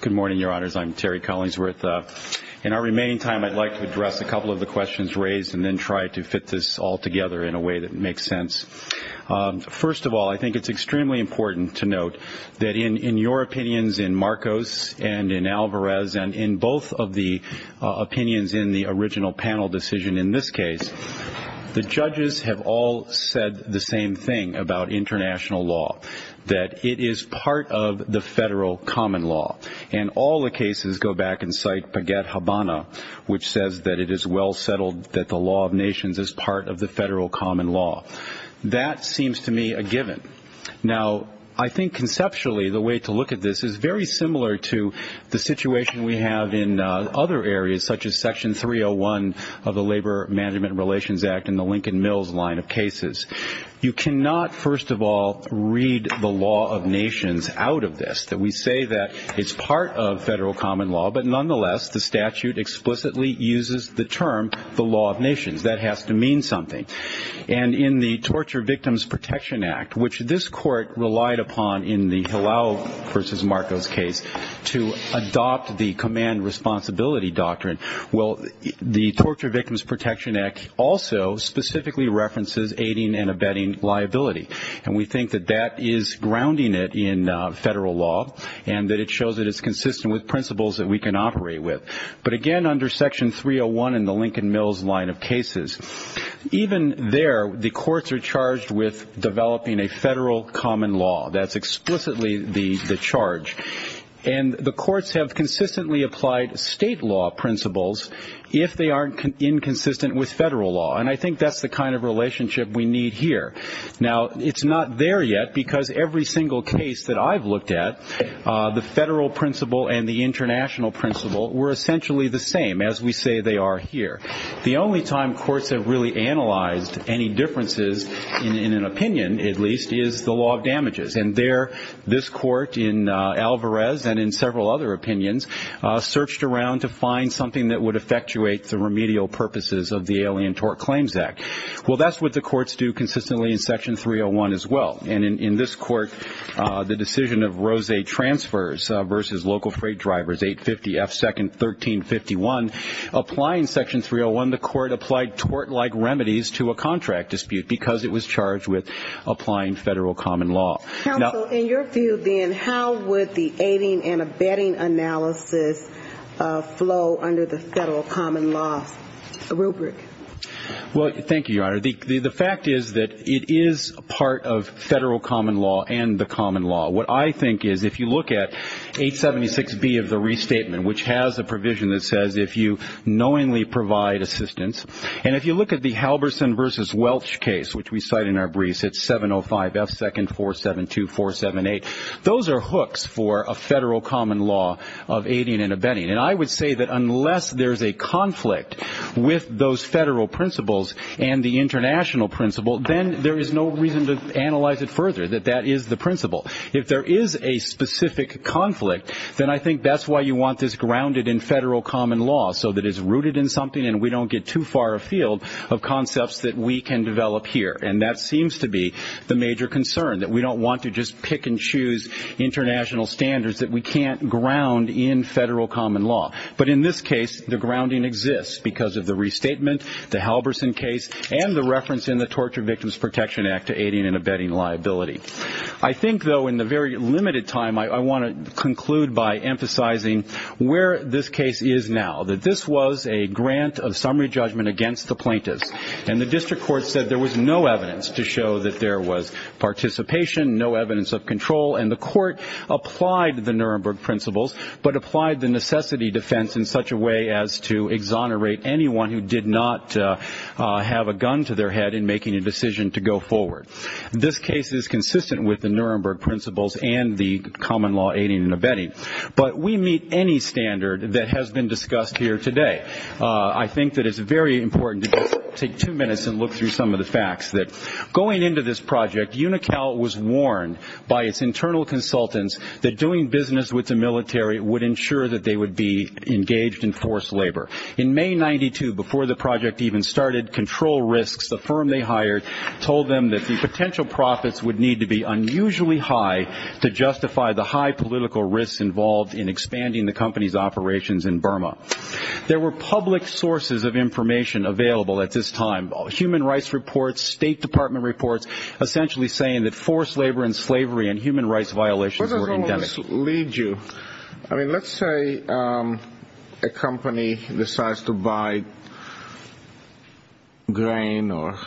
Good morning, Your Honors. I'm Terry Collinsworth. In our remaining time, I'd like to address a couple of the questions raised and then try to fit this all together in a way that makes sense. First of all, I think it's extremely important to note that in your opinions in Marcos and in Alvarez and in both of the opinions in the original panel decision in this case, the judges have all said the same thing about international law, that it is part of the federal common law. And all the cases go back and cite Paget-Habana, which says that it is well settled that the law of nations is part of the federal common law. That seems to me a given. Now, I think conceptually the way to look at this is very similar to the situation we have in other areas, such as Section 301 of the Labor Management Relations Act and the Lincoln Mills line of cases. You cannot, first of all, read the law of nations out of this. We say that it's part of federal common law, but nonetheless the statute explicitly uses the term the law of nations. That has to mean something. And in the Torture Victims Protection Act, which this court relied upon in the Hillel v. Marcos case to adopt the command responsibility doctrine, well, the Torture Victims Protection Act also specifically references aiding and abetting liability. And we think that that is grounding it in federal law and that it shows that it's consistent with principles that we can operate with. But again, under Section 301 in the Lincoln Mills line of cases, even there the courts are charged with developing a federal common law. That's explicitly the charge. And the courts have consistently applied state law principles if they aren't inconsistent with federal law. And I think that's the kind of relationship we need here. Now, it's not there yet because every single case that I've looked at, the federal principle and the international principle were essentially the same, as we say they are here. The only time courts have really analyzed any differences, in an opinion at least, is the law of damages. And there this court in Alvarez and in several other opinions searched around to find something that would effectuate the remedial purposes of the Alien Tort Claims Act. Well, that's what the courts do consistently in Section 301 as well. And in this court, the decision of Rose transfers versus local freight drivers, 850 F. Second, 1351. Applying Section 301, the court applied tort-like remedies to a contract dispute because it was charged with applying federal common law. Counsel, in your view then, how would the aiding and abetting analysis flow under the federal common law rubric? Well, thank you, Your Honor. The fact is that it is part of federal common law and the common law. What I think is, if you look at 876B of the restatement, which has a provision that says if you knowingly provide assistance, and if you look at the Halverson versus Welch case, which we cite in our briefs, it's 705 F. Second, 472, 478. Those are hooks for a federal common law of aiding and abetting. And I would say that unless there's a conflict with those federal principles and the international principle, then there is no reason to analyze it further, that that is the principle. If there is a specific conflict, then I think that's why you want this grounded in federal common law so that it's rooted in something and we don't get too far afield of concepts that we can develop here. And that seems to be the major concern, that we don't want to just pick and choose international standards that we can't ground in federal common law. But in this case, the grounding exists because of the restatement, the Halverson case, and the reference in the Torture Victims Protection Act to aiding and abetting liability. I think, though, in the very limited time, I want to conclude by emphasizing where this case is now, that this was a grant of summary judgment against the plaintiffs. And the district court said there was no evidence to show that there was participation, no evidence of control, and the court applied the Nuremberg principles but applied the necessity defense in such a way as to exonerate anyone who did not have a gun to their head in making a decision to go forward. This case is consistent with the Nuremberg principles and the common law aiding and abetting. But we meet any standard that has been discussed here today. I think that it's very important to take two minutes and look through some of the facts, that going into this project, UNICAL was warned by its internal consultants that doing business with the military would ensure that they would be engaged in forced labor. In May 1992, before the project even started, control risks, the firm they hired, told them that the potential profits would need to be unusually high to justify the high political risks involved in expanding the company's operations in Burma. There were public sources of information available at this time, human rights reports, State Department reports, essentially saying that forced labor and slavery and human rights violations were indefinite. Where does all this lead you? I mean, let's say a company decides to buy grain or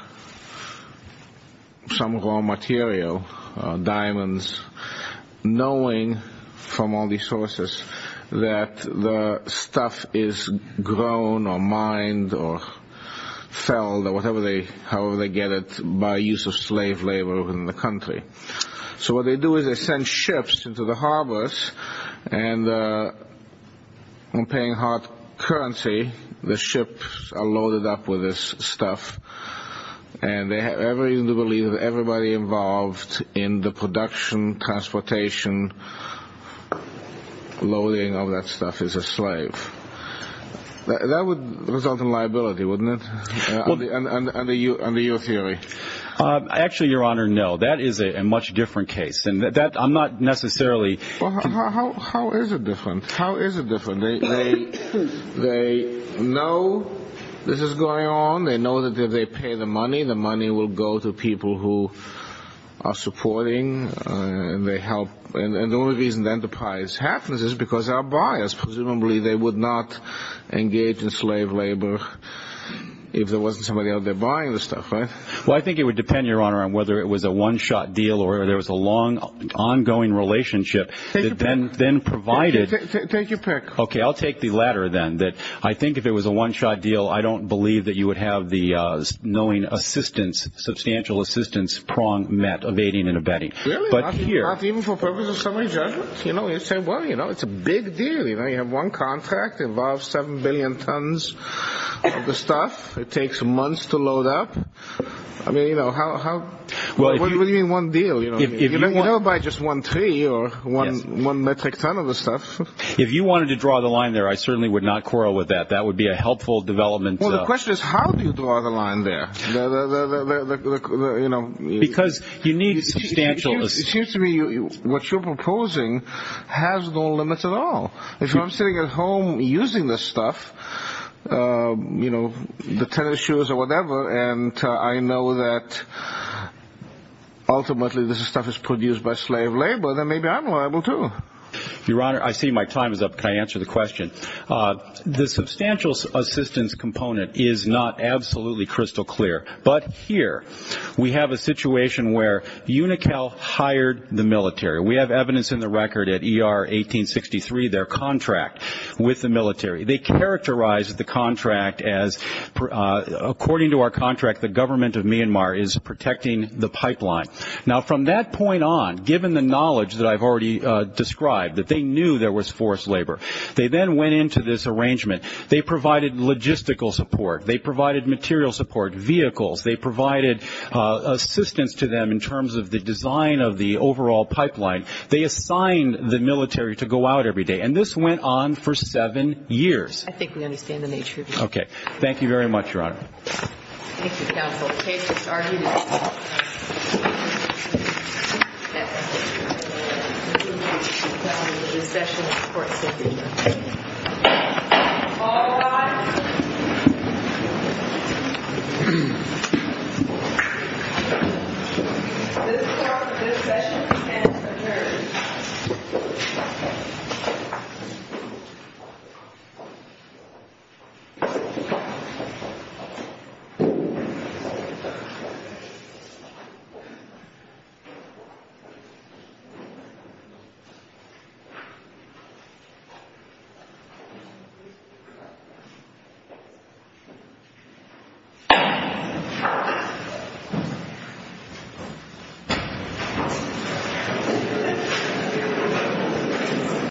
some raw material, diamonds, knowing from all these sources that the stuff is grown or mined or felled, or however they get it, by use of slave labor in the country. So what they do is they send ships into the harbors, and when paying hard currency, the ships are loaded up with this stuff. And they have every reason to believe that everybody involved in the production, transportation, loading of that stuff is a slave. That would result in liability, wouldn't it, under your theory? Actually, Your Honor, no. That is a much different case. I'm not necessarily— How is it different? How is it different? They know this is going on. They know that if they pay the money, the money will go to people who are supporting, and they help. And the only reason enterprise happens is because they are buyers. Presumably they would not engage in slave labor if there wasn't somebody out there buying the stuff, right? Well, I think it would depend, Your Honor, on whether it was a one-shot deal or there was a long, ongoing relationship that then provided— Take your pick. Okay, I'll take the latter then, that I think if it was a one-shot deal, I don't believe that you would have the knowing assistance, substantial assistance prong met, evading and abetting. Really? Not even for purposes of summary judgment? You know, you say, well, you know, it's a big deal. You know, you have one contract. It involves 7 billion tons of the stuff. It takes months to load up. I mean, you know, how— Well, if you— What do you mean one deal? You never buy just one tree or one metric ton of the stuff. If you wanted to draw the line there, I certainly would not quarrel with that. That would be a helpful development— Well, the question is how do you draw the line there? You know— Because you need substantial— It seems to me what you're proposing has no limits at all. If I'm sitting at home using this stuff, you know, the tennis shoes or whatever, and I know that ultimately this stuff is produced by slave labor, then maybe I'm liable too. Your Honor, I see my time is up. Can I answer the question? The substantial assistance component is not absolutely crystal clear. But here we have a situation where UNICAL hired the military. We have evidence in the record at ER 1863, their contract with the military. They characterized the contract as, according to our contract, the government of Myanmar is protecting the pipeline. Now, from that point on, given the knowledge that I've already described, that they knew there was forced labor, they then went into this arrangement. They provided logistical support. They provided material support, vehicles. They provided assistance to them in terms of the design of the overall pipeline. They assigned the military to go out every day. And this went on for seven years. I think we understand the nature of your question. Okay. Thank you very much, Your Honor. Thank you, counsel. The case is argued. Thank you.